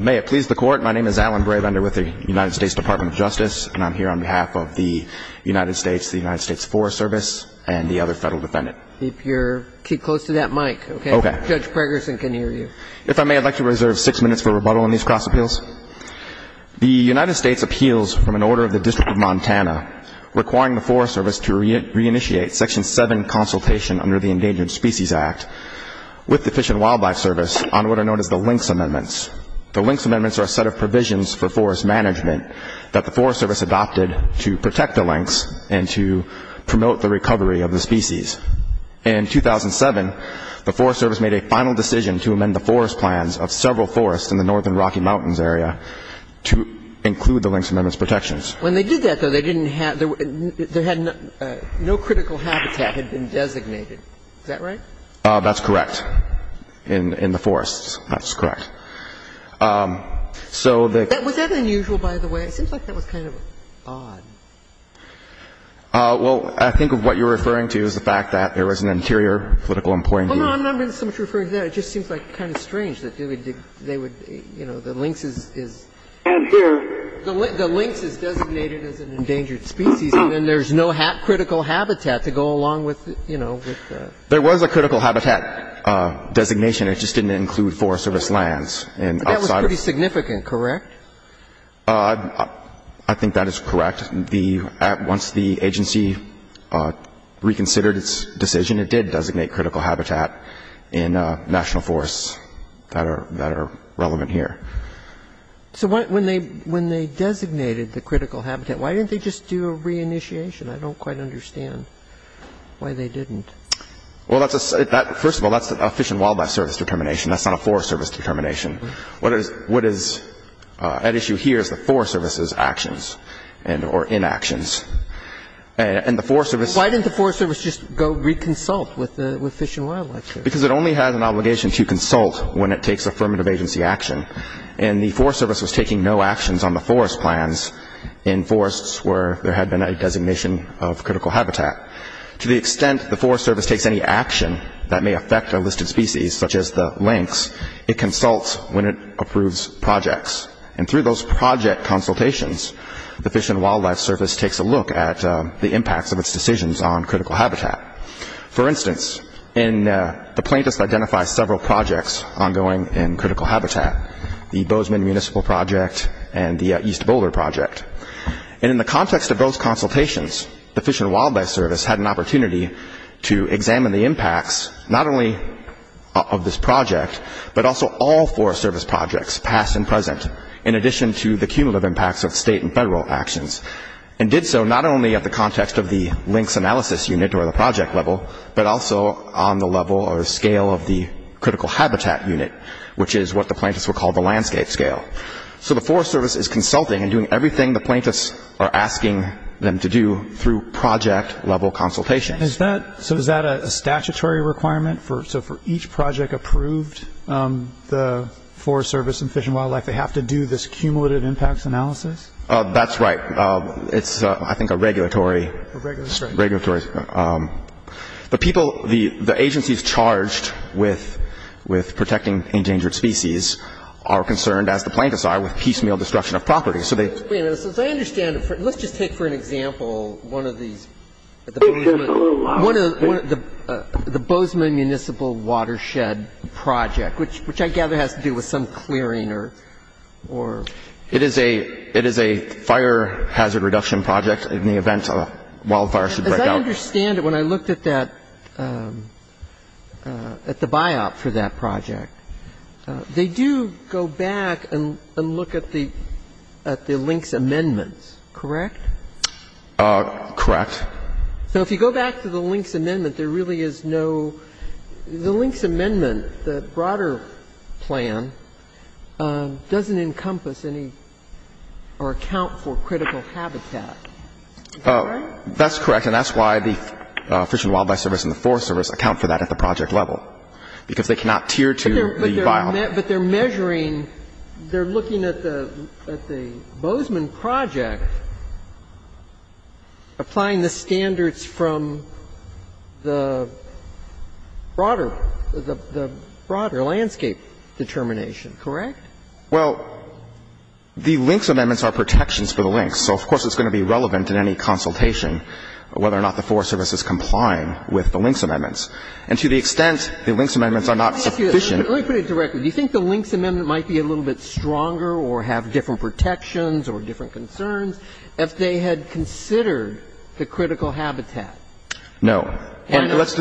May it please the Court, my name is Alan Bravender with the United States Department of Justice, and I'm here on behalf of the United States, the United States Forest Service, and the other Federal Defendant. If you're, keep close to that mic, okay? Okay. Judge Pregerson can hear you. If I may, I'd like to reserve six minutes for rebuttal on these cross appeals. The United States appeals from an order of the District of Montana requiring the Forest Service to reinitiate Section 7 consultation under the Endangered Species Act with the Fish and Wildlife Service on what are known as the Lynx Amendments. The Lynx Amendments are a set of provisions for forest management that the Forest Service adopted to protect the lynx and to promote the recovery of the species. In 2007, the Forest Service made a final decision to amend the forest plans of several forests in the northern Rocky Mountains area to include the Lynx Amendments protections. When they did that, though, they didn't have, there had no critical habitat had been designated. Is that right? That's correct. In the forests. That's correct. So the — Was that unusual, by the way? It seems like that was kind of odd. Well, I think of what you're referring to is the fact that there was an interior political employee — Hold on. I'm not referring to that. It just seems like kind of strange that they would, you know, the lynx is — The lynx is designated as an endangered species, and then there's no critical habitat to go along with, you know, with the — There was a critical habitat designation. It just didn't include Forest Service lands. But that was pretty significant, correct? I think that is correct. Once the agency reconsidered its decision, it did designate critical habitat in national forests that are relevant here. So when they designated the critical habitat, why didn't they just do a reinitiation? I don't quite understand why they didn't. Well, that's a — first of all, that's a Fish and Wildlife Service determination. That's not a Forest Service determination. What is at issue here is the Forest Service's actions and — or inactions. And the Forest Service — Why didn't the Forest Service just go reconsult with Fish and Wildlife? Because it only has an obligation to consult when it takes affirmative agency action. And the Forest Service was taking no actions on the forest plans in forests where there had been a designation of critical habitat. To the extent the Forest Service takes any action that may affect a listed species, such as the links, it consults when it approves projects. And through those project consultations, the Fish and Wildlife Service takes a look at the impacts of its decisions on critical habitat. For instance, the plaintiffs identify several projects ongoing in critical habitat, the Bozeman Municipal Project and the East Boulder Project. And in the context of those consultations, the Fish and Wildlife Service had an opportunity to examine the impacts, not only of this project, but also all Forest Service projects, past and present, in addition to the cumulative impacts of state and federal actions. And did so not only at the context of the links analysis unit or the project level, but also on the level or scale of the critical habitat unit, which is what the plaintiffs would call the landscape scale. So the Forest Service is consulting and doing everything the plaintiffs are asking them to do through project level consultations. So is that a statutory requirement? So for each project approved, the Forest Service and Fish and Wildlife, they have to do this cumulative impacts analysis? That's right. It's, I think, a regulatory. A regulatory. The people, the agencies charged with protecting endangered species are concerned, as the plaintiffs are, with piecemeal destruction of property. So they. Wait a minute. Let's just take, for an example, one of these. The Bozeman Municipal Watershed Project, which I gather has to do with some clearing or. It is a fire hazard reduction project in the event a wildfire should break out. As I understand it, when I looked at that, at the biop for that project, they do go back and look at the links amendments, correct? Correct. So if you go back to the links amendment, there really is no. The links amendment, the broader plan, doesn't encompass any or account for critical habitat. Is that right? That's correct. And that's why the Fish and Wildlife Service and the Forest Service account for that at the project level, because they cannot tier to the biop. But they're measuring. They're looking at the Bozeman project, applying the standards from the broader, the broader landscape determination, correct? Well, the links amendments are protections for the links. So of course it's going to be relevant in any consultation whether or not the Forest Service is complying with the links amendments. And to the extent the links amendments are not sufficient. Let me put it directly. Do you think the links amendment might be a little bit stronger or have different protections or different concerns if they had considered the critical habitat? No. And let's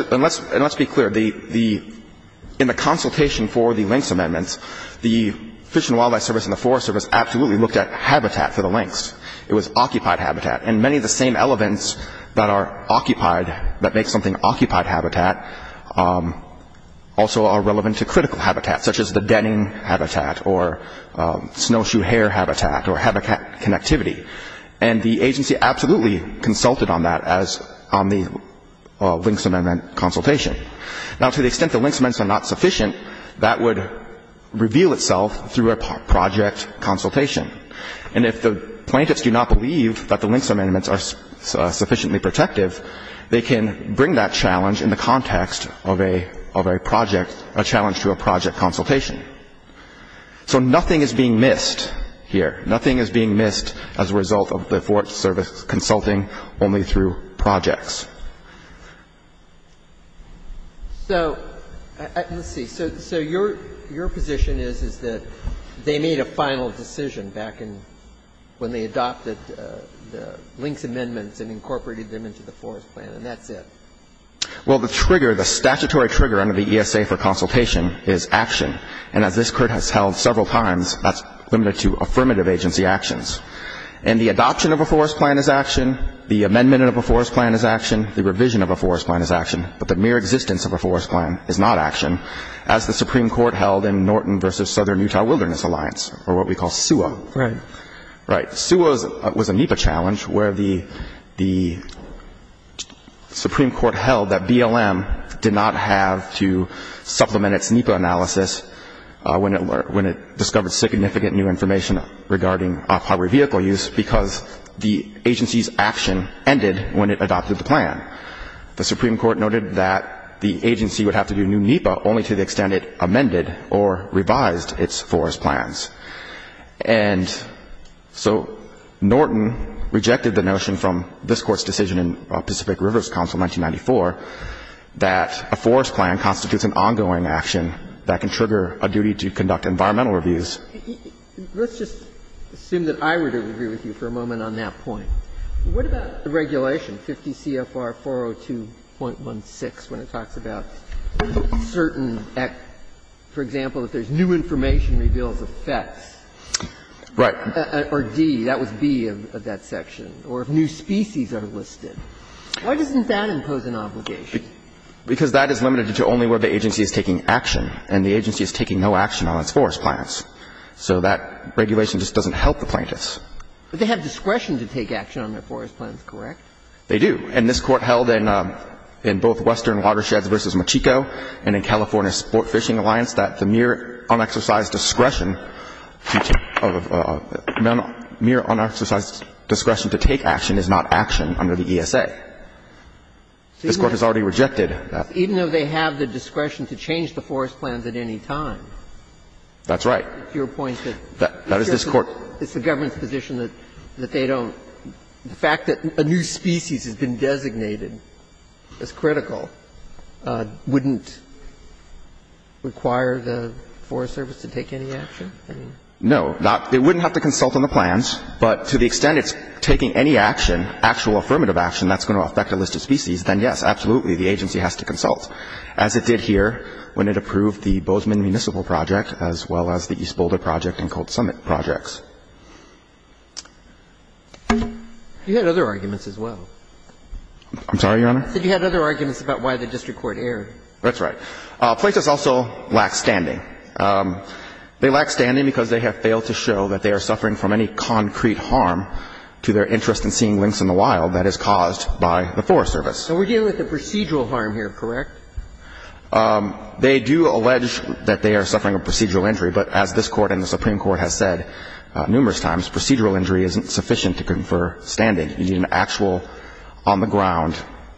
be clear. In the consultation for the links amendments, the Fish and Wildlife Service and the Forest Service absolutely looked at habitat for the links. It was occupied habitat. And many of the same elements that are occupied, that make something occupied habitat, also are relevant to critical habitat, such as the denning habitat or snowshoe hare habitat or habitat connectivity. And the agency absolutely consulted on that as on the links amendment consultation. Now, to the extent the links amendments are not sufficient, that would reveal itself through a project consultation. And if the plaintiffs do not believe that the links amendments are sufficiently protective, they can bring that challenge in the context of a project, a challenge to a project consultation. So nothing is being missed here. Nothing is being missed as a result of the Forest Service consulting only through projects. So let's see. So your position is, is that they made a final decision back in when they adopted the links amendments and incorporated them into the forest plan, and that's it? Well, the trigger, the statutory trigger under the ESA for consultation is action. And as this Court has held several times, that's limited to affirmative agency actions. And the adoption of a forest plan is action. The amendment of a forest plan is action. The revision of a forest plan is action. But the mere existence of a forest plan is not action, as the Supreme Court held in Norton v. Southern Utah Wilderness Alliance, or what we call SUWA. Right. Right. SUWA was a NEPA challenge where the Supreme Court held that BLM did not have to supplement its NEPA analysis when it discovered significant new information regarding off-highway vehicle use because the agency's action ended when it adopted the plan. The Supreme Court noted that the agency would have to do new NEPA only to the extent it And so Norton rejected the notion from this Court's decision in Pacific Rivers Council 1994 that a forest plan constitutes an ongoing action that can trigger a duty to conduct environmental reviews. Let's just assume that I were to agree with you for a moment on that point. What about the regulation, 50 CFR 402.16, when it talks about certain, for example, if there's new information reveals effects? Right. Or D, that was B of that section, or if new species are listed. Why doesn't that impose an obligation? Because that is limited to only where the agency is taking action, and the agency is taking no action on its forest plans. So that regulation just doesn't help the plaintiffs. But they have discretion to take action on their forest plans, correct? They do. And this Court held in both Western Watersheds v. Mochico and in California Sport Fishing Alliance that the mere unexercised discretion to take action is not action under the ESA. This Court has already rejected that. Even though they have the discretion to change the forest plans at any time. That's right. It's your point that it's the government's position that they don't. But the fact that a new species has been designated as critical wouldn't require the Forest Service to take any action? No. It wouldn't have to consult on the plans. But to the extent it's taking any action, actual affirmative action, that's going to affect a list of species, then, yes, absolutely, the agency has to consult, as it did here when it approved the Bozeman Municipal Project, as well as the East Boulder Project and Cold Summit Projects. You had other arguments as well. I'm sorry, Your Honor? I said you had other arguments about why the district court erred. That's right. Plaintiffs also lack standing. They lack standing because they have failed to show that they are suffering from any concrete harm to their interest in seeing lynx in the wild that is caused by the Forest Service. So we're dealing with a procedural harm here, correct? They do allege that they are suffering a procedural injury, but as this Court and the Court of Appeals have said numerous times, procedural injury isn't sufficient to confer standing. You need an actual, on-the-ground,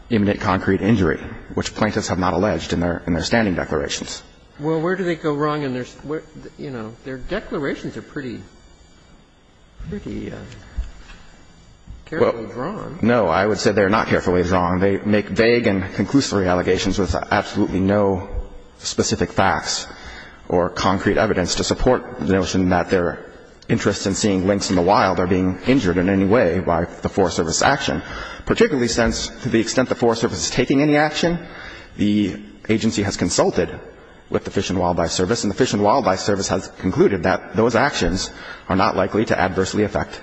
imminent concrete injury, which plaintiffs have not alleged in their standing declarations. Well, where do they go wrong in their, you know, their declarations are pretty carefully drawn. No. I would say they are not carefully drawn. They make vague and conclusory allegations with absolutely no specific facts or concrete evidence to support the notion that their interest in seeing lynx in the wild are being injured in any way by the Forest Service's action. Particularly since, to the extent the Forest Service is taking any action, the agency has consulted with the Fish and Wildlife Service, and the Fish and Wildlife Service has concluded that those actions are not likely to adversely affect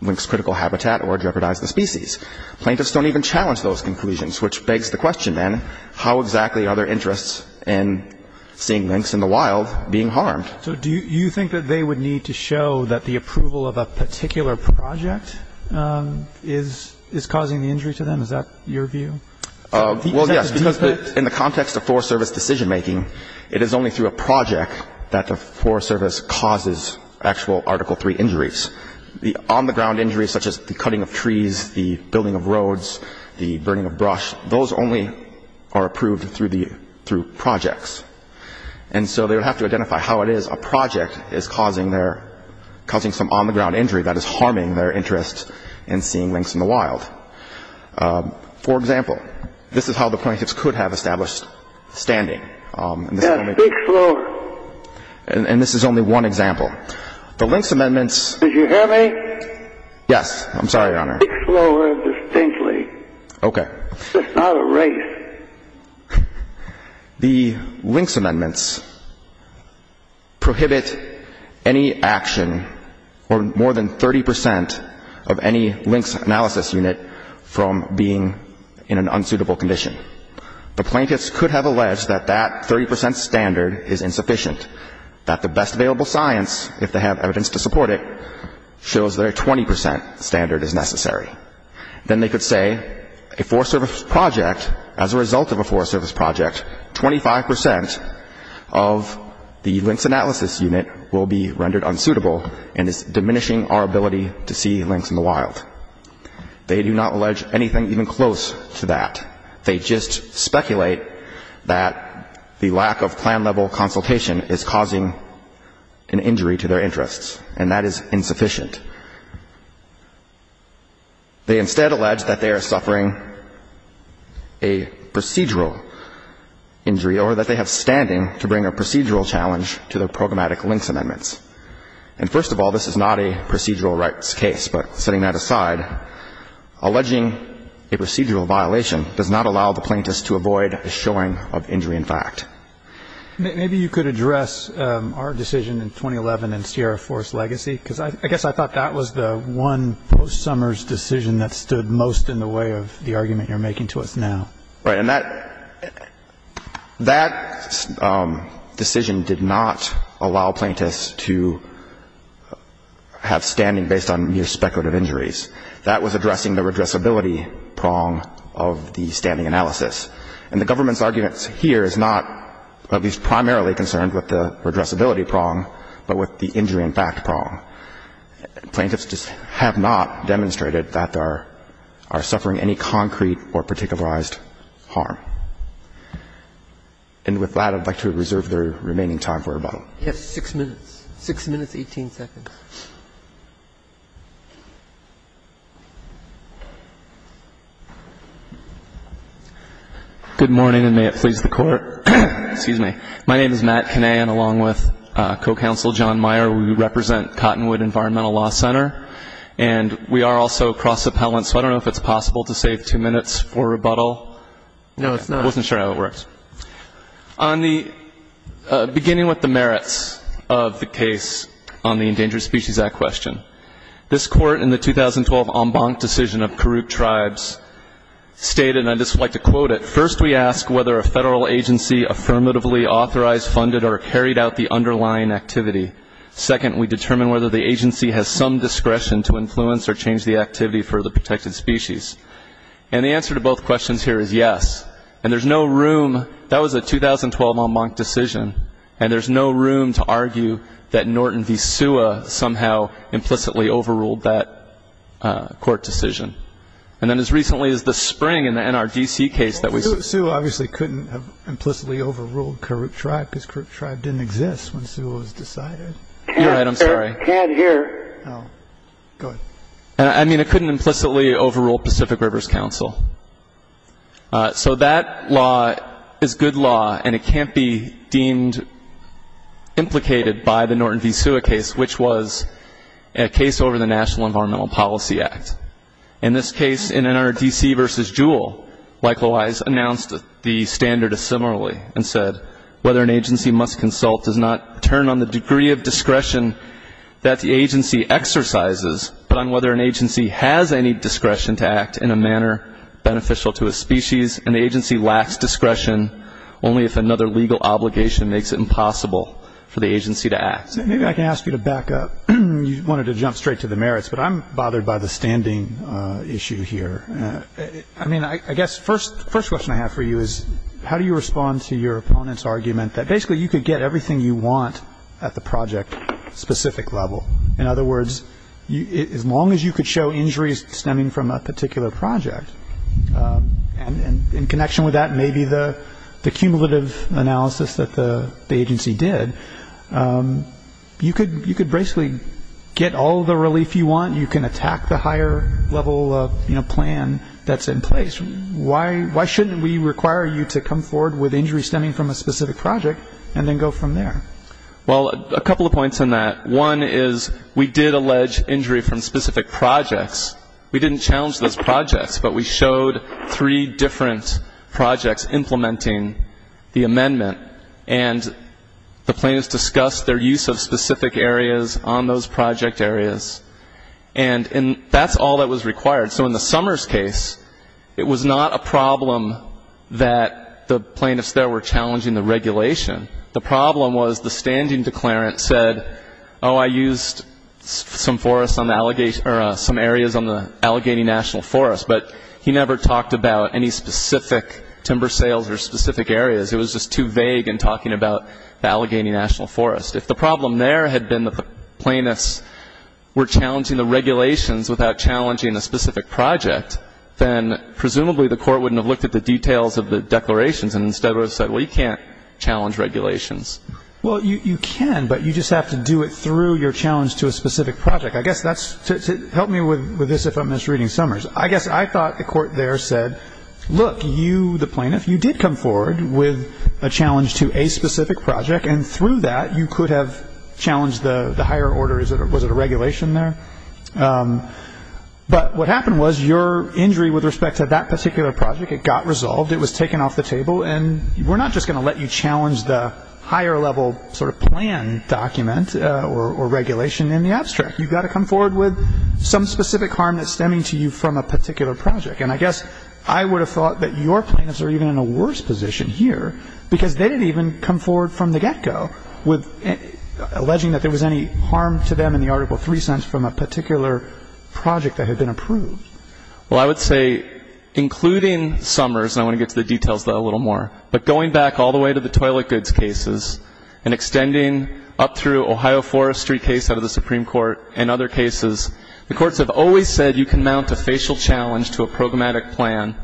lynx critical habitat or jeopardize the species. Plaintiffs don't even challenge those conclusions, which begs the question, then, how exactly are their interests in seeing lynx in the wild being harmed? So do you think that they would need to show that the approval of a particular project is causing the injury to them? Is that your view? Well, yes, because in the context of Forest Service decision-making, it is only through a project that the Forest Service causes actual Article III injuries. The on-the-ground injuries, such as the cutting of trees, the building of roads, the burning of brush, those only are approved through projects. And so they would have to identify how it is a project is causing some on-the-ground injury that is harming their interest in seeing lynx in the wild. For example, this is how the plaintiffs could have established standing. Yes, speak slower. And this is only one example. The lynx amendments... Did you hear me? Yes. I'm sorry, Your Honor. Speak slower and distinctly. Okay. This is not a race. The lynx amendments prohibit any action or more than 30 percent of any lynx analysis unit from being in an unsuitable condition. The plaintiffs could have alleged that that 30 percent standard is insufficient, that the best available science, if they have evidence to support it, shows that a 20 percent standard is necessary. Then they could say a Forest Service project, as a result of a Forest Service project, 25 percent of the lynx analysis unit will be rendered unsuitable and is diminishing our ability to see lynx in the wild. They do not allege anything even close to that. They just speculate that the lack of plan-level consultation is causing an injury to their interests, and that is insufficient. They instead allege that they are suffering a procedural injury or that they have standing to bring a procedural challenge to their programmatic lynx amendments. And first of all, this is not a procedural rights case. But setting that aside, alleging a procedural violation does not allow the plaintiffs to avoid a showing of injury in fact. Maybe you could address our decision in 2011 in Sierra Forest Legacy, because I guess I thought that was the one post-Summers decision that stood most in the way of the argument you're making to us now. Right. And that decision did not allow plaintiffs to have standing based on mere speculative injuries. That was addressing the redressability prong of the standing analysis. And the government's argument here is not at least primarily concerned with the redressability prong, but with the injury in fact prong. Plaintiffs just have not demonstrated that they are suffering any concrete or particularized harm. And with that, I'd like to reserve the remaining time for rebuttal. You have six minutes. Six minutes, 18 seconds. Good morning, and may it please the Court. Excuse me. My name is Matt Kinnehan, along with co-counsel John Meyer. We represent Cottonwood Environmental Law Center. And we are also cross-appellant, so I don't know if it's possible to save two minutes for rebuttal. No, it's not. I wasn't sure how it works. On the beginning with the merits of the case on the Endangered Species Act question, this Court in the 2012 en banc decision of Karuk Tribes stated, and I'd just like to quote it, first we ask whether a federal agency affirmatively authorized, funded, or carried out the underlying activity. Second, we determine whether the agency has some discretion to influence or change the activity for the protected species. And the answer to both questions here is yes. And there's no room, that was a 2012 en banc decision, and there's no room to argue that Norton v. SUA somehow implicitly overruled that court decision. And then as recently as the spring in the NRDC case that was... SUA obviously couldn't have implicitly overruled Karuk Tribe because Karuk Tribe didn't exist when SUA was decided. You're right, I'm sorry. Can't hear. Go ahead. I mean it couldn't implicitly overrule Pacific Rivers Council. So that law is good law, and it can't be deemed implicated by the Norton v. SUA case, which was a case over the National Environmental Policy Act. In this case, in NRDC v. Jewell, likewise, announced the standard similarly and said whether an agency must consult does not turn on the degree of discretion that the agency exercises, but on whether an agency has any discretion to act in a manner beneficial to a species. An agency lacks discretion only if another legal obligation makes it impossible for the agency to act. Maybe I can ask you to back up. You wanted to jump straight to the merits, but I'm bothered by the standing issue here. I mean I guess the first question I have for you is how do you respond to your opponent's argument that basically you could get everything you want at the project-specific level? In other words, as long as you could show injuries stemming from a particular project, and in connection with that maybe the cumulative analysis that the agency did, you could basically get all the relief you want. You can attack the higher level plan that's in place. Why shouldn't we require you to come forward with injuries stemming from a specific project and then go from there? Well, a couple of points on that. One is we did allege injury from specific projects. We didn't challenge those projects, but we showed three different projects implementing the amendment. And the plaintiffs discussed their use of specific areas on those project areas. And that's all that was required. So in the Summers case, it was not a problem that the plaintiffs there were challenging the regulation. The problem was the standing declarant said, oh, I used some areas on the Allegheny National Forest, but he never talked about any specific timber sales or specific areas. It was just too vague in talking about the Allegheny National Forest. If the problem there had been the plaintiffs were challenging the regulations without challenging the specific project, then presumably the court wouldn't have looked at the details of the declarations and instead would have said, well, you can't challenge regulations. Well, you can, but you just have to do it through your challenge to a specific project. I guess that's to help me with this if I'm misreading Summers. I guess I thought the court there said, look, you, the plaintiff, you did come forward with a challenge to a specific project, and through that you could have challenged the higher order. Was it a regulation there? But what happened was your injury with respect to that particular project, it got resolved. It was taken off the table. And we're not just going to let you challenge the higher level sort of plan document or regulation in the abstract. You've got to come forward with some specific harm that's stemming to you from a particular project. And I guess I would have thought that your plaintiffs are even in a worse position here because they didn't even come forward from the get-go with alleging that there was any harm to them in the Article 3 sense from a particular project that had been approved. Well, I would say, including Summers, and I want to get to the details of that a little more, but going back all the way to the toilet goods cases and extending up through Ohio Forestry case out of the Supreme Court and other cases, the courts have always said you can mount a facial challenge to a programmatic plan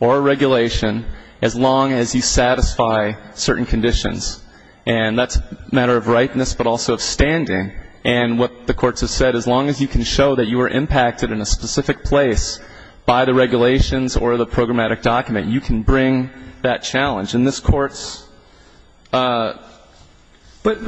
or regulation as long as you satisfy certain conditions. And that's a matter of rightness but also of standing. And what the courts have said, as long as you can show that you were impacted in a specific place by the regulations or the programmatic document, you can bring that challenge. And this Court's ---- But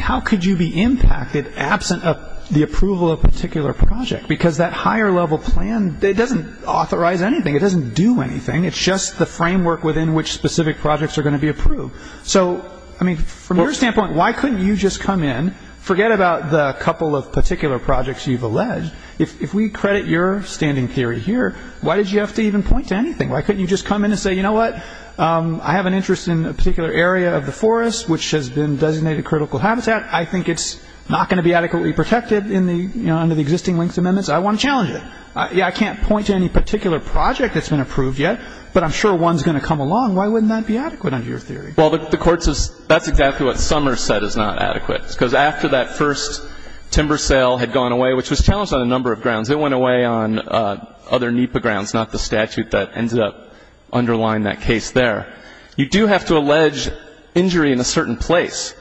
how could you be impacted absent of the approval of a particular project? Because that higher level plan, it doesn't authorize anything. It doesn't do anything. It's just the framework within which specific projects are going to be approved. So, I mean, from your standpoint, why couldn't you just come in, forget about the couple of particular projects you've alleged. If we credit your standing theory here, why did you have to even point to anything? Why couldn't you just come in and say, you know what, I have an interest in a particular area of the forest which has been designated critical habitat. I think it's not going to be adequately protected under the existing links amendments. I want to challenge it. I can't point to any particular project that's been approved yet, but I'm sure one's going to come along. Why wouldn't that be adequate under your theory? Well, the Court's ---- that's exactly what Summers said is not adequate. Because after that first timber sale had gone away, which was challenged on a number of grounds, it went away on other NEPA grounds, not the statute that ended up underlying that case there. You do have to allege injury in a certain place.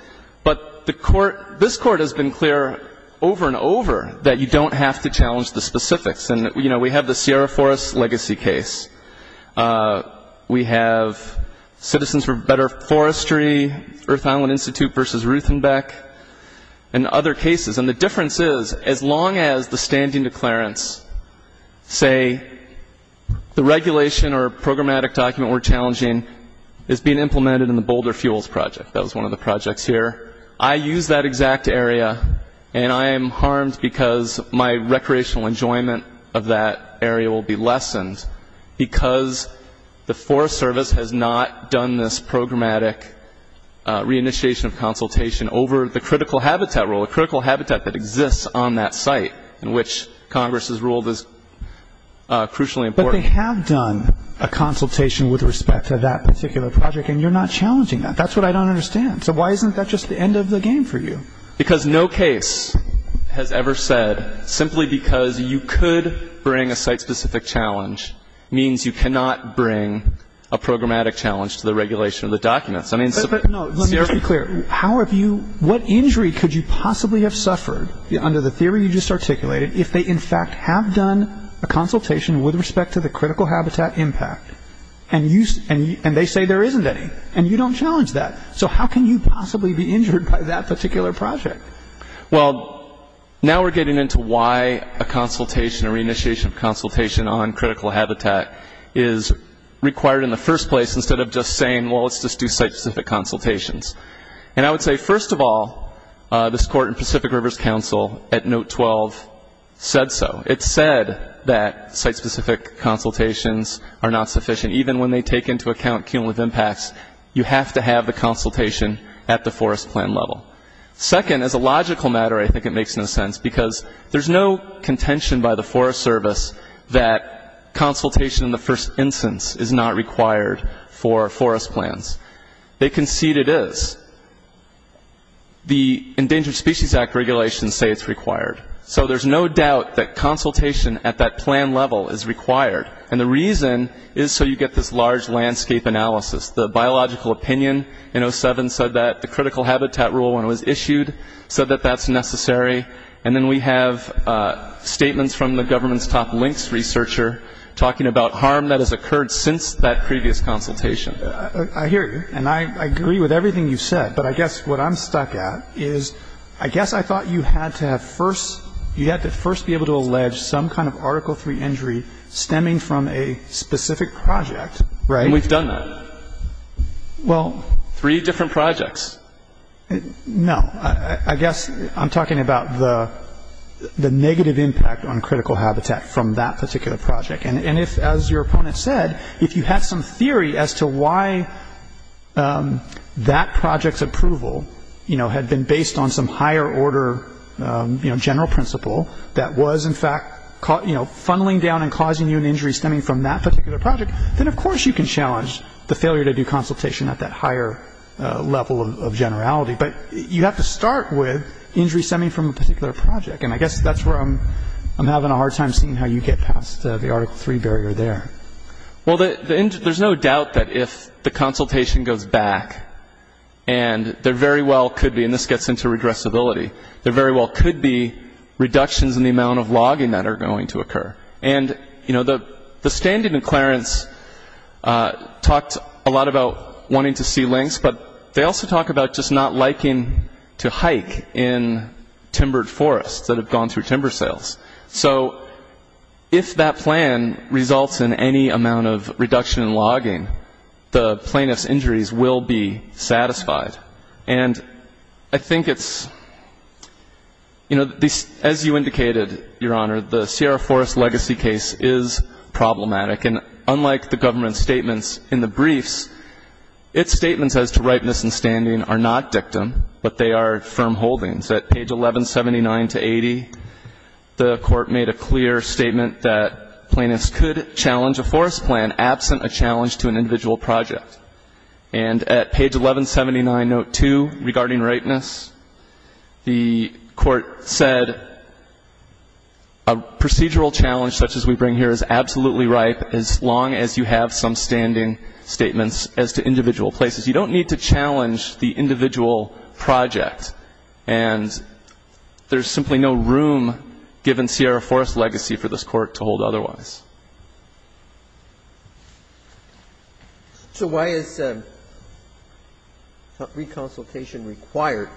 But the Court ---- this Court has been clear over and over that you don't have to challenge the specifics. And, you know, we have the Sierra Forest legacy case. We have Citizens for Better Forestry, Earth Island Institute v. Ruthenbeck, and other cases. And the difference is, as long as the standing declarants say the regulation or programmatic document we're challenging is being implemented in the Boulder Fuels Project, that was one of the projects here, I use that exact area and I am harmed because my recreational enjoyment of that area will be lessened because the Forest Service has not done this programmatic reinitiation of consultation over the critical habitat rule, a critical habitat that exists on that site in which Congress has ruled is crucially important. But they have done a consultation with respect to that particular project, and you're not challenging that. That's what I don't understand. So why isn't that just the end of the game for you? Because no case has ever said simply because you could bring a site-specific challenge means you cannot bring a programmatic challenge to the regulation of the documents. I mean, Sierra ---- But, no, let me be clear. How have you ---- what injury could you possibly have suffered under the theory you just articulated if they, in fact, have done a consultation with respect to the critical habitat impact, and they say there isn't any, and you don't challenge that. So how can you possibly be injured by that particular project? Well, now we're getting into why a consultation or reinitiation of consultation on critical habitat is required in the first place instead of just saying, well, let's just do site-specific consultations. And I would say, first of all, this Court in Pacific Rivers Council at Note 12 said so. It said that site-specific consultations are not sufficient. Even when they take into account cumulative impacts, you have to have the consultation at the forest plan level. Second, as a logical matter, I think it makes no sense because there's no contention by the Forest Service that consultation in the first instance is not required for forest plans. They concede it is. The Endangered Species Act regulations say it's required. So there's no doubt that consultation at that plan level is required. And the reason is so you get this large landscape analysis. The biological opinion in 07 said that. The critical habitat rule, when it was issued, said that that's necessary. And then we have statements from the government's top LINCS researcher talking about harm that has occurred since that previous consultation. I hear you, and I agree with everything you said. But I guess what I'm stuck at is I guess I thought you had to have first be able to allege that there was some kind of Article III injury stemming from a specific project, right? And we've done that. Well. Three different projects. No. I guess I'm talking about the negative impact on critical habitat from that particular project. And if, as your opponent said, if you had some theory as to why that project's approval, you know, had been based on some higher order, you know, general principle that was, in fact, you know, funneling down and causing you an injury stemming from that particular project, then of course you can challenge the failure to do consultation at that higher level of generality. But you have to start with injury stemming from a particular project. And I guess that's where I'm having a hard time seeing how you get past the Article III barrier there. Well, there's no doubt that if the consultation goes back, and there very well could be, and this gets into regressibility, there very well could be reductions in the amount of logging that are going to occur. And, you know, the standing in Clarence talked a lot about wanting to see lynx, but they also talk about just not liking to hike in timbered forests that have gone through timber sales. So if that plan results in any amount of reduction in logging, the plaintiff's injuries will be satisfied. And I think it's, you know, as you indicated, Your Honor, the Sierra Forest legacy case is problematic. And unlike the government statements in the briefs, its statements as to ripeness and standing are not dictum, but they are firm holdings. At page 1179-80, the Court made a clear statement that plaintiffs could challenge a forest plan absent a challenge to an individual project. And at page 1179-02, regarding ripeness, the Court said a procedural challenge such as we bring here is absolutely ripe as long as you have some standing statements as to individual places. You don't need to challenge the individual project. And there's simply no room given Sierra Forest legacy for this Court to hold otherwise. So why is reconsultation required?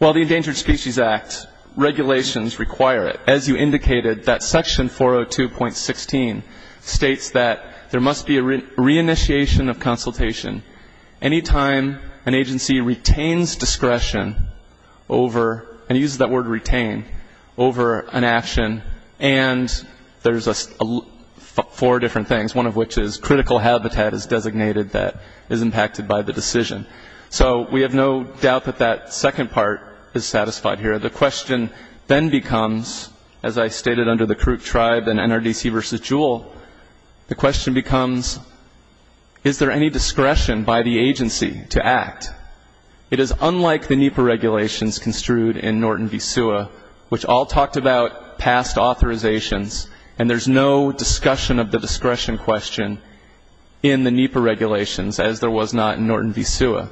Well, the Endangered Species Act regulations require it. As you indicated, that section 402.16 states that there must be a reinitiation of consultation any time an agency retains discretion over, and uses that word retain, over an action. And there's four different things, one of which is critical habitat is designated that is impacted by the decision. So we have no doubt that that second part is satisfied here. The question then becomes, as I stated under the Karuk Tribe and NRDC v. Jewell, the question becomes, is there any discretion by the agency to act? It is unlike the NEPA regulations construed in Norton v. Sewa, which all talked about past authorizations, and there's no discussion of the discretion question in the NEPA regulations as there was not in Norton v. Sewa.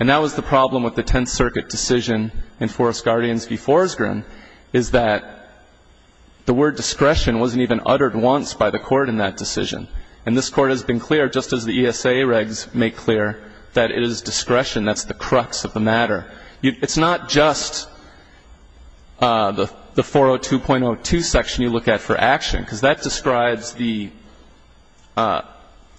And that was the problem with the Tenth Circuit decision in Forest Guardians v. Forsgren, is that the word discretion wasn't even uttered once by the Court in that decision. And this Court has been clear, just as the ESA regs make clear, that it is discretion that's the crux of the matter. It's not just the 402.02 section you look at for action, because that describes the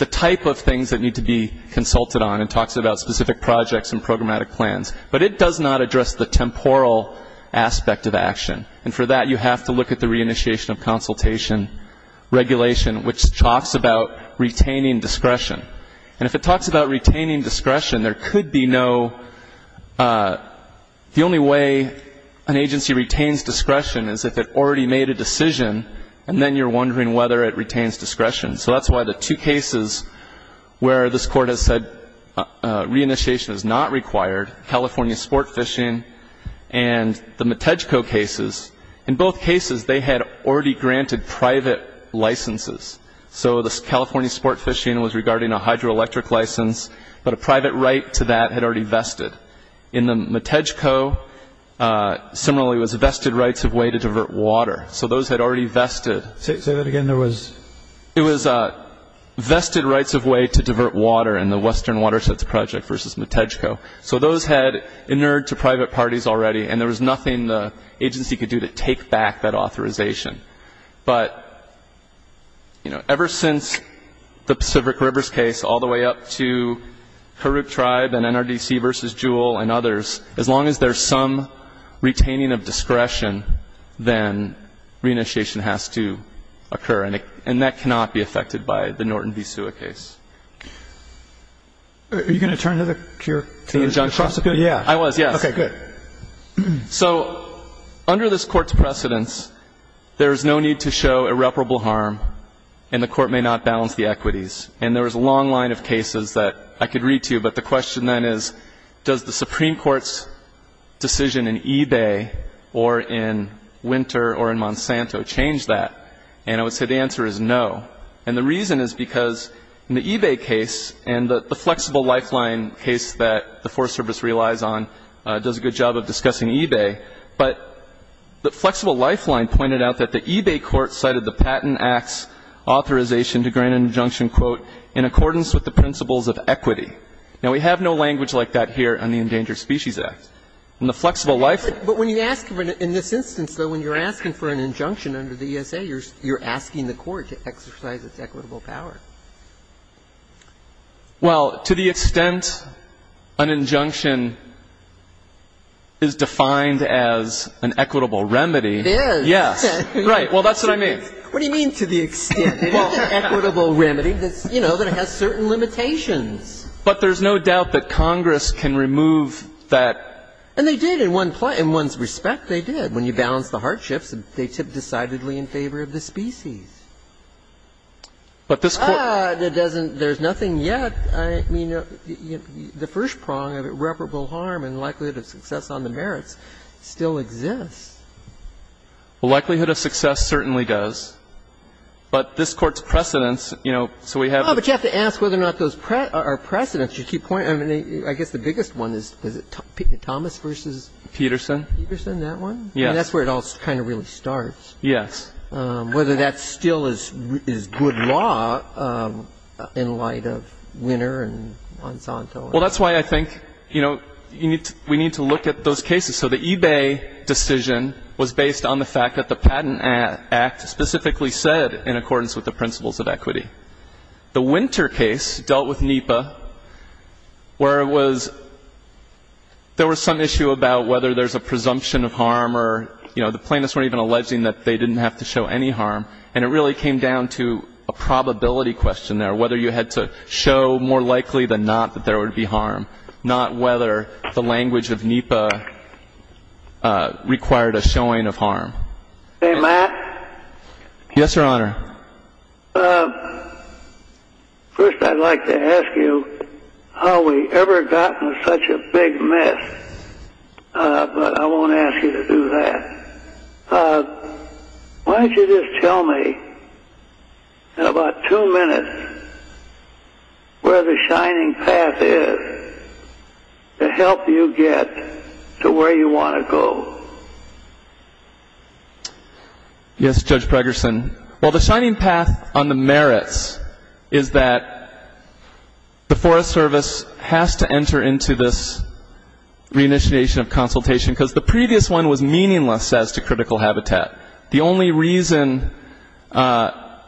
type of things that need to be consulted on and talks about specific projects and programmatic plans. But it does not address the temporal aspect of action, and for that you have to look at the reinitiation of consultation regulation, which talks about retaining discretion. And if it talks about retaining discretion, there could be no ‑‑ the only way an agency retains discretion is if it already made a decision and then you're wondering whether it retains discretion. So that's why the two cases where this Court has said reinitiation is not required, California sport fishing and the Matejko cases, in both cases they had already granted private licenses. So the California sport fishing was regarding a hydroelectric license, but a private right to that had already vested. In the Matejko, similarly, it was vested rights of way to divert water. So those had already vested. Say that again. It was vested rights of way to divert water in the Western Watersheds Project versus Matejko. So those had inerred to private parties already, and there was nothing the agency could do to take back that authorization. But, you know, ever since the Pacific Rivers case all the way up to Kuruk Tribe and NRDC v. Jewel and others, as long as there's some retaining of discretion, then reinitiation has to occur, and that cannot be affected by the Norton v. Sua case. Are you going to turn to your prosecutor? Yeah. I was, yes. Okay, good. So under this Court's precedence, there is no need to show irreparable harm, and the Court may not balance the equities. And there was a long line of cases that I could read to you, but the question then is, does the Supreme Court's decision in eBay or in Winter or in Monsanto change that? And I would say the answer is no, and the reason is because in the eBay case and the flexible lifeline case that the Court was discussing eBay, but the flexible lifeline pointed out that the eBay court cited the Patent Act's authorization to grant an injunction, quote, in accordance with the principles of equity. Now, we have no language like that here on the Endangered Species Act. In the flexible lifeline. But when you ask in this instance, though, when you're asking for an injunction under the ESA, you're asking the Court to exercise its equitable power. Well, to the extent an injunction is defined as an equitable remedy. It is. Yes. Right. Well, that's what I mean. What do you mean to the extent? It is an equitable remedy that's, you know, that it has certain limitations. But there's no doubt that Congress can remove that. And they did in one's respect, they did. When you balance the hardships, they tipped decidedly in favor of the species. But this Court. Ah, it doesn't. There's nothing yet. I mean, the first prong of irreparable harm and likelihood of success on the merits still exists. Well, likelihood of success certainly does. But this Court's precedents, you know, so we have the. Oh, but you have to ask whether or not those are precedents. You keep pointing. I mean, I guess the biggest one is, is it Thomas v. Peterson? Peterson, that one? I mean, that's where it all kind of really starts. Yes. Whether that still is good law in light of Winner and Monsanto. Well, that's why I think, you know, we need to look at those cases. So the eBay decision was based on the fact that the Patent Act specifically said, in accordance with the principles of equity. The Winter case dealt with NEPA where it was, there was some issue about whether the plaintiffs weren't even alleging that they didn't have to show any harm. And it really came down to a probability question there, whether you had to show more likely than not that there would be harm, not whether the language of NEPA required a showing of harm. May I ask? Yes, Your Honor. First, I'd like to ask you, have we ever gotten to such a big mess? But I won't ask you to do that. Why don't you just tell me in about two minutes where the shining path is to help you get to where you want to go. Yes, Judge Pregerson. Well, the shining path on the merits is that the Forest Service has to enter into this reinitiation of consultation because the previous one was meaningless as to critical habitat. The only reason there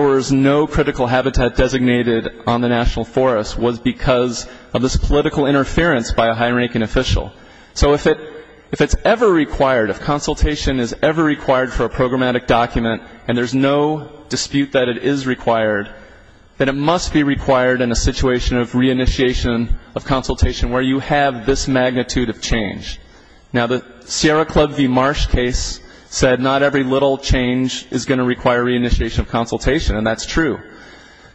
was no critical habitat designated on the National Forest was because of this political interference by a high-ranking official. So if it's ever required, if consultation is ever required for a programmatic document and there's no dispute that it is required, then it must be required in a situation of reinitiation of consultation where you have this magnitude of change. Now, the Sierra Club v. Marsh case said not every little change is going to require reinitiation of consultation, and that's true.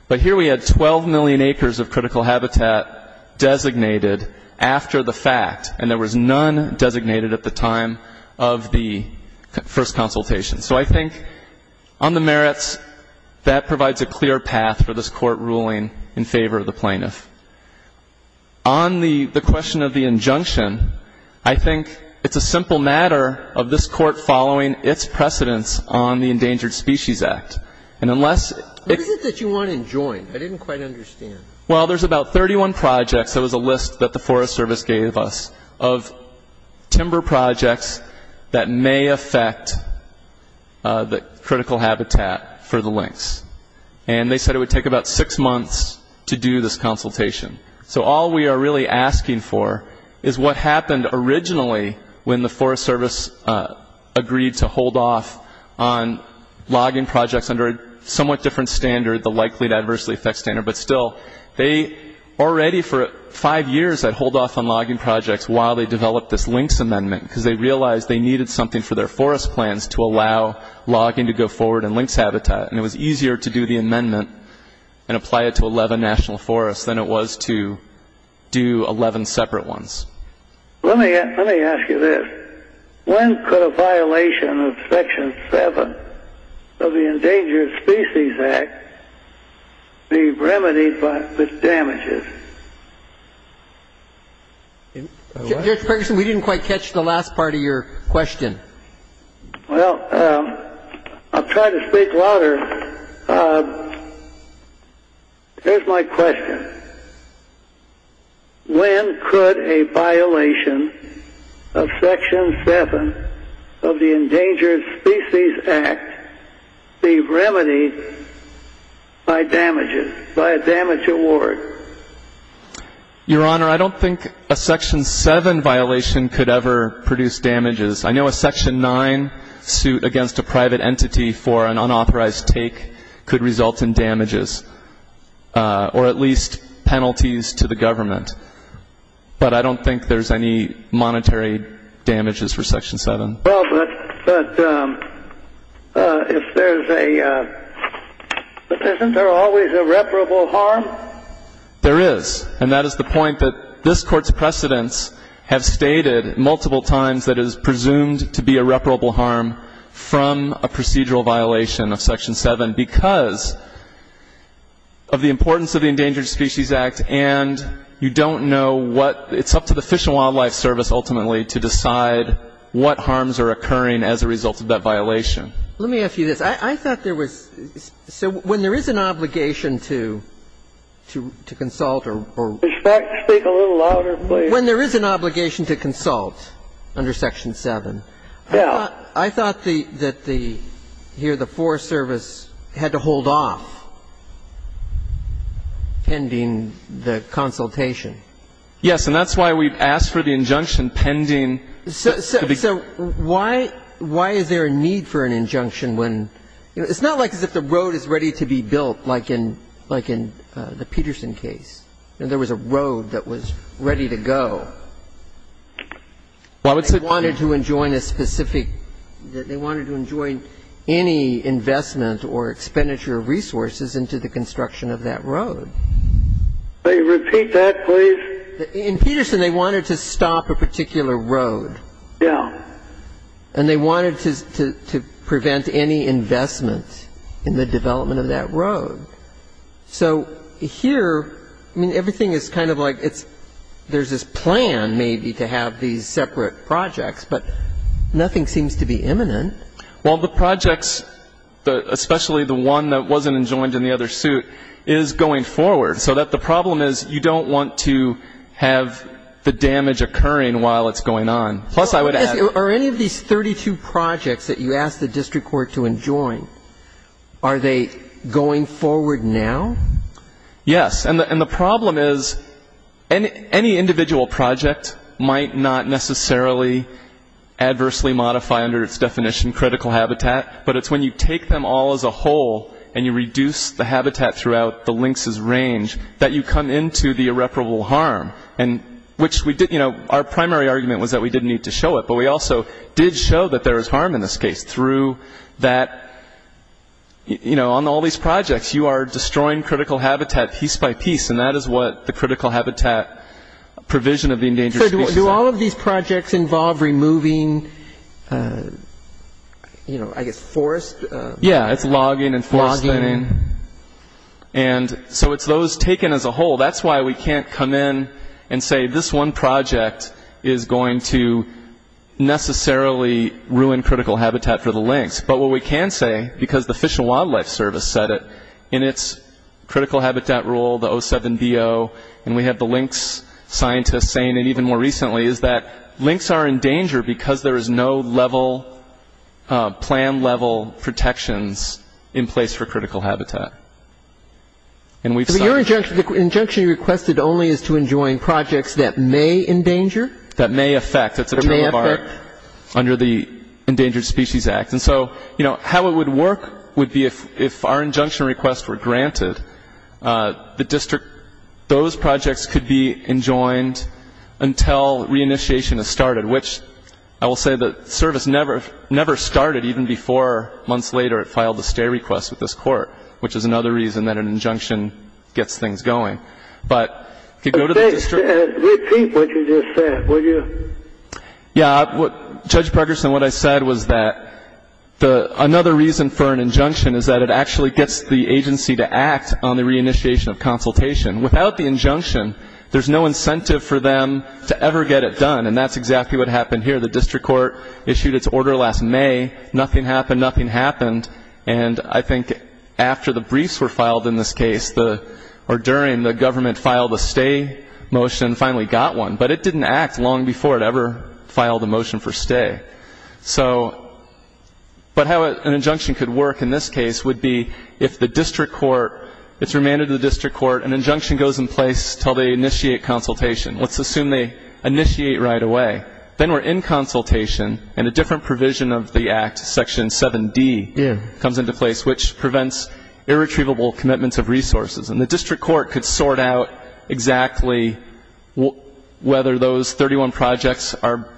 But here we had 12 million acres of critical habitat designated after the fact, and there was none designated at the time of the first consultation. So I think on the merits, that provides a clear path for this Court ruling in favor of the plaintiff. On the question of the injunction, I think it's a simple matter of this Court following its precedence on the Endangered Species Act. What is it that you want in joint? I didn't quite understand. Well, there's about 31 projects, that was a list that the Forest Service gave us, of timber projects that may affect the critical habitat for the lynx. And they said it would take about six months to do this consultation. So all we are really asking for is what happened originally when the Forest Service agreed to hold off on logging projects under a somewhat different standard, the likely to adversely affect standard. But still, they already for five years had hold off on logging projects while they developed this lynx amendment, because they realized they needed something for their forest plans to allow logging to go forward in lynx habitat. And it was easier to do the amendment and apply it to 11 national forests than it was to do 11 separate ones. Let me ask you this. When could a violation of Section 7 of the Endangered Species Act be remedied with damages? Judge Ferguson, we didn't quite catch the last part of your question. Well, I'll try to speak louder. Here's my question. When could a violation of Section 7 of the Endangered Species Act be remedied by damages, by a damage award? Your Honor, I don't think a Section 7 violation could ever produce damages. I know a Section 9 suit against a private entity for an unauthorized take could result in damages, or at least penalties to the government. But I don't think there's any monetary damages for Section 7. Well, but isn't there always irreparable harm? There is. And that is the point that this Court's precedents have stated multiple times that it is presumed to be irreparable harm from a procedural violation of Section 7 because of the importance of the Endangered Species Act. And you don't know what, it's up to the Fish and Wildlife Service ultimately to decide what harms are occurring as a result of that violation. Let me ask you this. I thought there was, so when there is an obligation to consult or... Speak a little louder, please. When there is an obligation to consult under Section 7. Yeah. I thought the, that the, here the Forest Service had to hold off pending the consultation. Yes, and that's why we've asked for the injunction pending... So why, why is there a need for an injunction when, you know, it's not like as if the road is ready to be built like in, like in the Peterson case. There was a road that was ready to go. Well, it's a... They wanted to enjoin a specific... They wanted to enjoin any investment or expenditure of resources into the construction of that road. Repeat that, please. In Peterson, they wanted to stop a particular road. Yeah. So here, I mean, everything is kind of like it's, there's this plan maybe to have these separate projects, but nothing seems to be imminent. Well, the projects, especially the one that wasn't enjoined in the other suit, is going forward, so that the problem is you don't want to have the damage occurring while it's going on. Plus, I would add... Yes. And the problem is any individual project might not necessarily adversely modify under its definition critical habitat, but it's when you take them all as a whole and you reduce the habitat throughout the links' range that you come into the irreparable harm. And which we did, you know, our primary argument was that we didn't need to show it, but we also did show that there is harm in this case through that, you know, on all these projects, you are destroying critical habitat piece by piece, and that is what the critical habitat provision of the endangered species. So do all of these projects involve removing, you know, I guess, forest... Yeah, it's logging and forest thinning. Logging. And so it's those taken as a whole. That's why we can't come in and say this one project is going to necessarily ruin critical habitat for the links. But what we can say, because the Fish and Wildlife Service said it in its critical habitat rule, the 07BO, and we have the links scientists saying it even more recently, is that links are in danger because there is no level, planned level protections in place for critical habitat. But your injunction requested only is to enjoin projects that may endanger? That may affect. That may affect. Under the Endangered Species Act. And so, you know, how it would work would be if our injunction requests were granted, the district, those projects could be enjoined until reinitiation is started, which I will say the service never started even before months later it filed a stay request with this court, which is another reason that an injunction gets things going. But if you go to the district... Repeat what you just said, would you? Yeah. Judge Pregerson, what I said was that another reason for an injunction is that it actually gets the agency to act on the reinitiation of consultation. Without the injunction, there's no incentive for them to ever get it done. And that's exactly what happened here. The district court issued its order last May. Nothing happened. Nothing happened. And I think after the briefs were filed in this case, or during, the government filed a stay motion and finally got one. But it didn't act long before it ever filed a motion for stay. So... But how an injunction could work in this case would be if the district court... It's remanded to the district court. An injunction goes in place until they initiate consultation. Let's assume they initiate right away. Then we're in consultation, and a different provision of the Act, Section 7D, comes into place, which prevents irretrievable commitments of resources. And the district court could sort out exactly whether those 31 projects are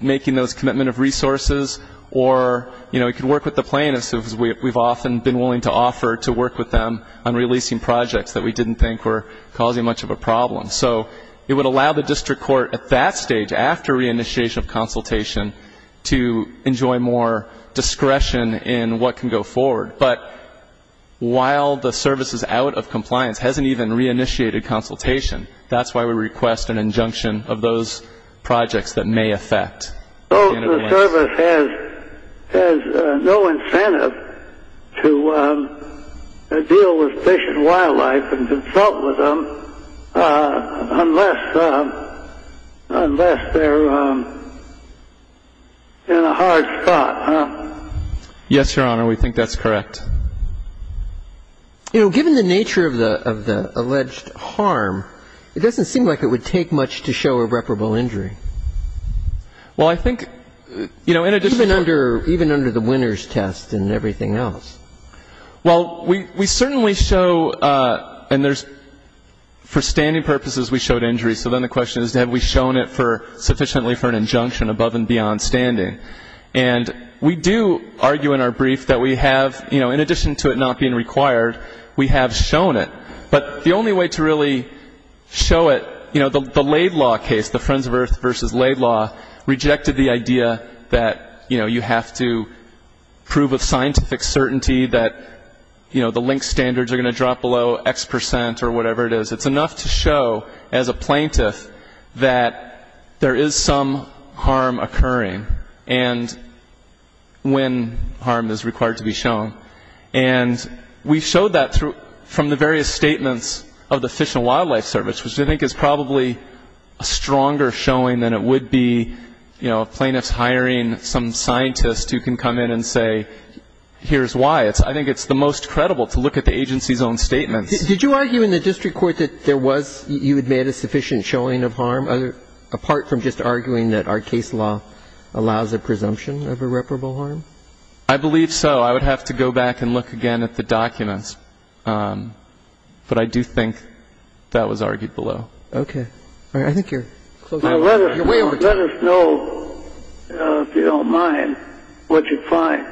making those commitment of resources, or it could work with the plaintiffs, as we've often been willing to offer, to work with them on releasing projects that we didn't think were causing much of a problem. So it would allow the district court at that stage, after reinitiation of consultation, to enjoy more discretion in what can go forward. But while the service is out of compliance, hasn't even reinitiated consultation, that's why we request an injunction of those projects that may affect. So the service has no incentive to deal with fish and wildlife and consult with them unless they're in a hard spot. Yes, Your Honor. We think that's correct. You know, given the nature of the alleged harm, it doesn't seem like it would take much to show irreparable injury. Well, I think, you know, in addition to... Even under the winner's test and everything else. Well, we certainly show, and there's, for standing purposes, we showed injuries. So then the question is, have we shown it sufficiently for an injunction above and beyond standing? And we do argue in our brief that we have, you know, in addition to it not being required, we have shown it. But the only way to really show it, you know, the Laid Law case, the Friends of Earth v. Laid Law, rejected the idea that, you know, you have to prove with scientific certainty that, you know, the link standards are going to drop below X percent or whatever it is. It's enough to show, as a plaintiff, that there is some harm occurring and when harm is required to be shown. And we showed that from the various statements of the Fish and Wildlife Service, which I think is probably a stronger showing than it would be, you know, a plaintiff's hiring some scientist who can come in and say, here's why. I think it's the most credible to look at the agency's own statements. Did you argue in the district court that there was you had made a sufficient showing of harm, apart from just arguing that our case law allows a presumption of irreparable harm? I believe so. I would have to go back and look again at the documents. But I do think that was argued below. Okay. I think you're way over time. Let us know, if you don't mind, what you find.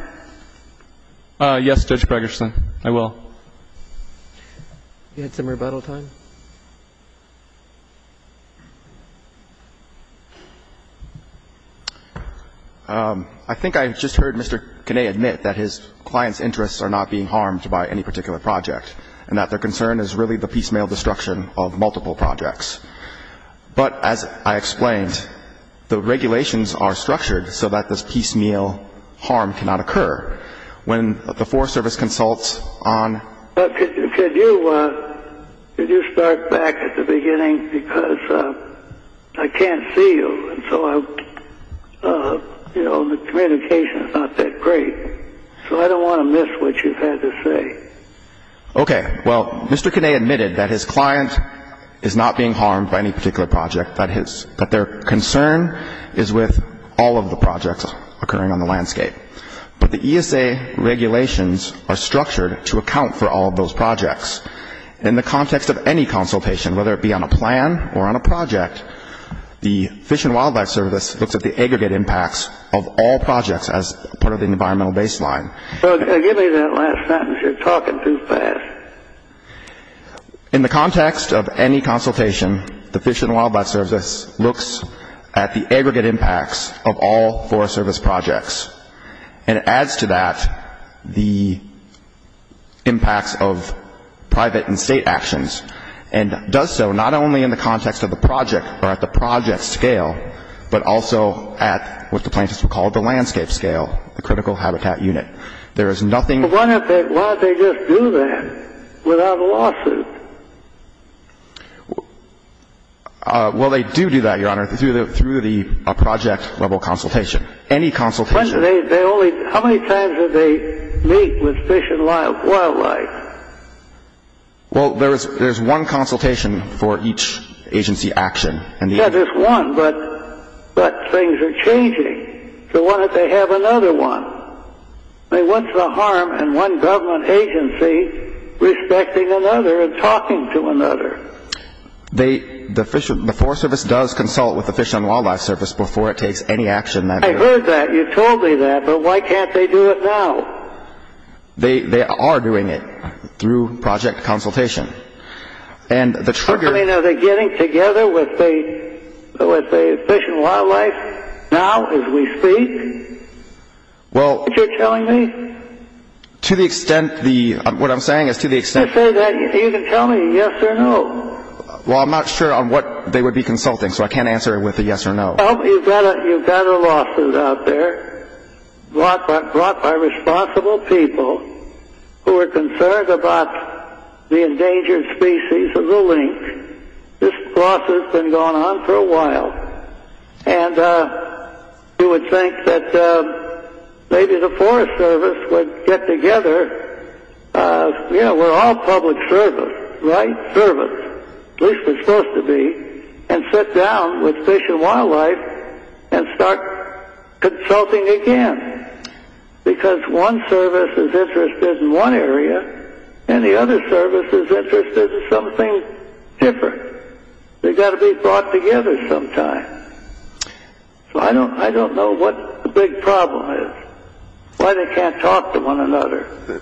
Yes, Judge Bregersen, I will. You had some rebuttal time. I think I just heard Mr. Kinnead admit that his client's interests are not being harmed by any particular project and that their concern is really the piecemeal destruction of multiple projects. But, as I explained, the regulations are structured so that this piecemeal harm cannot occur. When the Forest Service consults on — Could you start back at the beginning? Because I can't see you, and so, you know, the communication is not that great. So I don't want to miss what you've had to say. Okay. Well, Mr. Kinnead admitted that his client is not being harmed by any particular project, that their concern is with all of the projects occurring on the landscape. But the ESA regulations are structured to account for all of those projects. In the context of any consultation, whether it be on a plan or on a project, the Fish and Wildlife Service looks at the aggregate impacts of all projects as part of the environmental baseline. Give me that last sentence. You're talking too fast. In the context of any consultation, the Fish and Wildlife Service looks at the aggregate impacts of all Forest Service projects and adds to that the impacts of private and state actions and does so not only in the context of the project or at the project scale, but also at what the plaintiffs would call the landscape scale, the critical habitat unit. Why don't they just do that without a lawsuit? Well, they do do that, Your Honor, through the project-level consultation, any consultation. How many times do they meet with Fish and Wildlife? Well, there's one consultation for each agency action. Yes, there's one, but things are changing. So why don't they have another one? I mean, what's the harm in one government agency respecting another and talking to another? The Forest Service does consult with the Fish and Wildlife Service before it takes any action. I heard that. You told me that. But why can't they do it now? They are doing it through project consultation. I mean, are they getting together with the Fish and Wildlife now as we speak? Aren't you telling me? To the extent the – what I'm saying is to the extent – You can tell me yes or no. Well, I'm not sure on what they would be consulting, so I can't answer with a yes or no. Well, you've got a lawsuit out there brought by responsible people who are concerned about the endangered species of the lynx. This lawsuit's been going on for a while, and you would think that maybe the Forest Service would get together. You know, we're all public service, right? Service, at least we're supposed to be, and sit down with Fish and Wildlife and start consulting again because one service is interested in one area and the other service is interested in something different. They've got to be brought together sometime. So I don't know what the big problem is, why they can't talk to one another.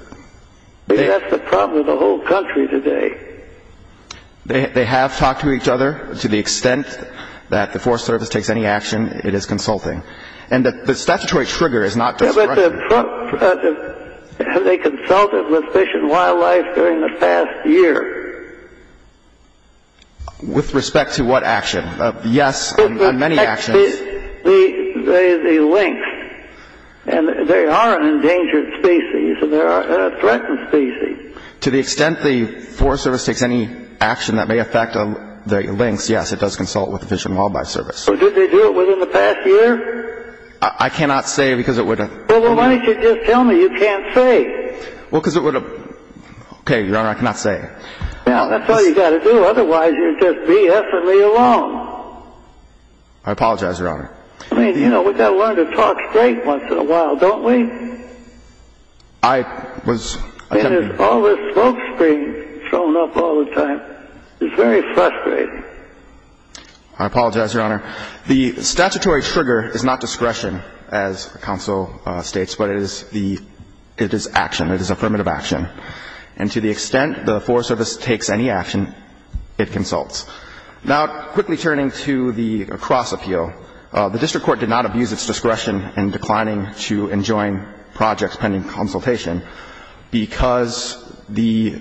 That's the problem with the whole country today. They have talked to each other. To the extent that the Forest Service takes any action, it is consulting. And the statutory trigger is not discretionary. Have they consulted with Fish and Wildlife during the past year? With respect to what action? Yes, on many actions. The lynx. And they are an endangered species, and they are a threatened species. To the extent the Forest Service takes any action that may affect the lynx, yes, it does consult with the Fish and Wildlife Service. So did they do it within the past year? I cannot say because it would have... Well, then why don't you just tell me? You can't say. Well, because it would have... Okay, Your Honor, I cannot say. Well, that's all you've got to do. Otherwise, you'd just be effortlessly alone. I apologize, Your Honor. I mean, you know, we've got to learn to talk straight once in a while, don't we? I was... And there's all this smoke screen showing up all the time. It's very frustrating. I apologize, Your Honor. The statutory trigger is not discretion, as counsel states, but it is action. It is affirmative action. And to the extent the Forest Service takes any action, it consults. Now, quickly turning to the cross-appeal, the district court did not abuse its discretion in declining to enjoin projects pending consultation because the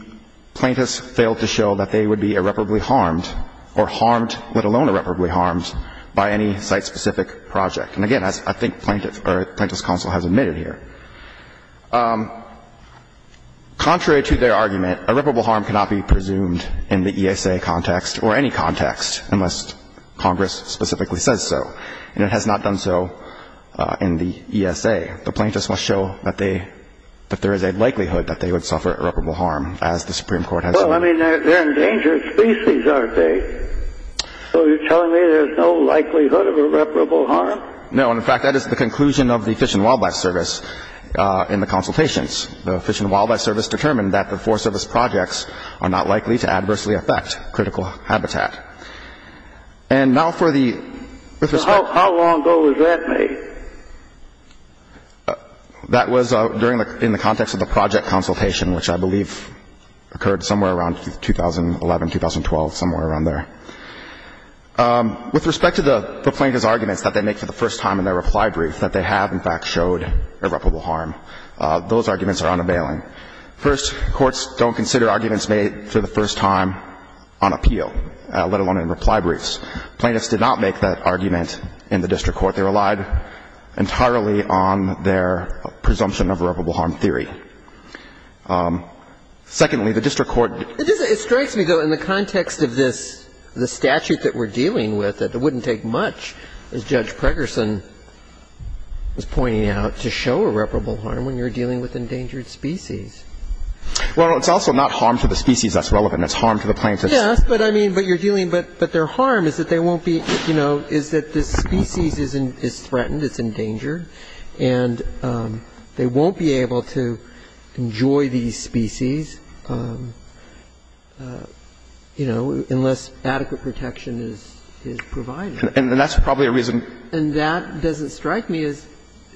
plaintiffs failed to show that they would be irreparably harmed or harmed, let alone irreparably harmed, by any site-specific project. And, again, I think plaintiff's counsel has admitted here. Contrary to their argument, irreparable harm cannot be presumed in the ESA context or any context unless Congress specifically says so. And it has not done so in the ESA. The plaintiffs must show that there is a likelihood that they would suffer irreparable harm, as the Supreme Court has... Well, I mean, they're an endangered species, aren't they? So you're telling me there's no likelihood of irreparable harm? No, and, in fact, that is the conclusion of the Fish and Wildlife Service in the consultations. The Fish and Wildlife Service determined that the Forest Service projects are not likely to adversely affect critical habitat. And now for the... How long ago was that made? That was during the context of the project consultation, which I believe occurred somewhere around 2011, 2012, somewhere around there. With respect to the plaintiff's arguments that they make for the first time in their reply brief that they have, in fact, showed irreparable harm, those arguments are unavailing. First, courts don't consider arguments made for the first time on appeal, let alone in reply briefs. Plaintiffs did not make that argument in the district court. They relied entirely on their presumption of irreparable harm theory. Secondly, the district court... It strikes me, though, in the context of this statute that we're dealing with, that it wouldn't take much, as Judge Pregerson was pointing out, to show irreparable harm when you're dealing with endangered species. Well, it's also not harm to the species that's relevant. It's harm to the plaintiffs. Yes, but, I mean, but you're dealing... But their harm is that they won't be, you know, is that this species is threatened, it's endangered, and they won't be able to enjoy these species, you know, unless adequate protection is provided. And that's probably a reason... And that doesn't strike me as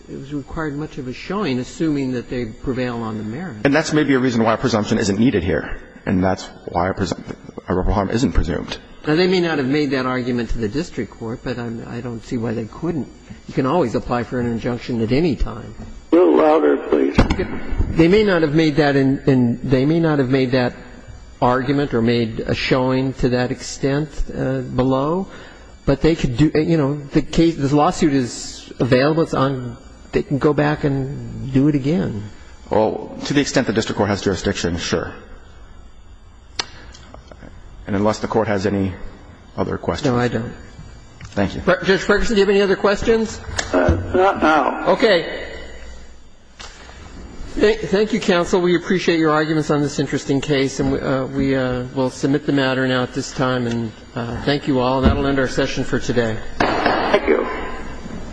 it was required much of a showing, assuming that they prevail on the merits. And that's maybe a reason why a presumption isn't needed here. And that's why irreparable harm isn't presumed. Now, they may not have made that argument to the district court, but I don't see why they couldn't. You can always apply for an injunction at any time. A little louder, please. They may not have made that in... They may not have made that argument or made a showing to that extent below, but they could do... You know, the case... This lawsuit is available. It's on... They can go back and do it again. Well, to the extent the district court has jurisdiction, sure. And unless the Court has any other questions... No, I don't. Thank you. Judge Ferguson, do you have any other questions? Not now. Okay. Thank you, counsel. We appreciate your arguments on this interesting case. And we will submit the matter now at this time. And thank you all. And that will end our session for today. Thank you.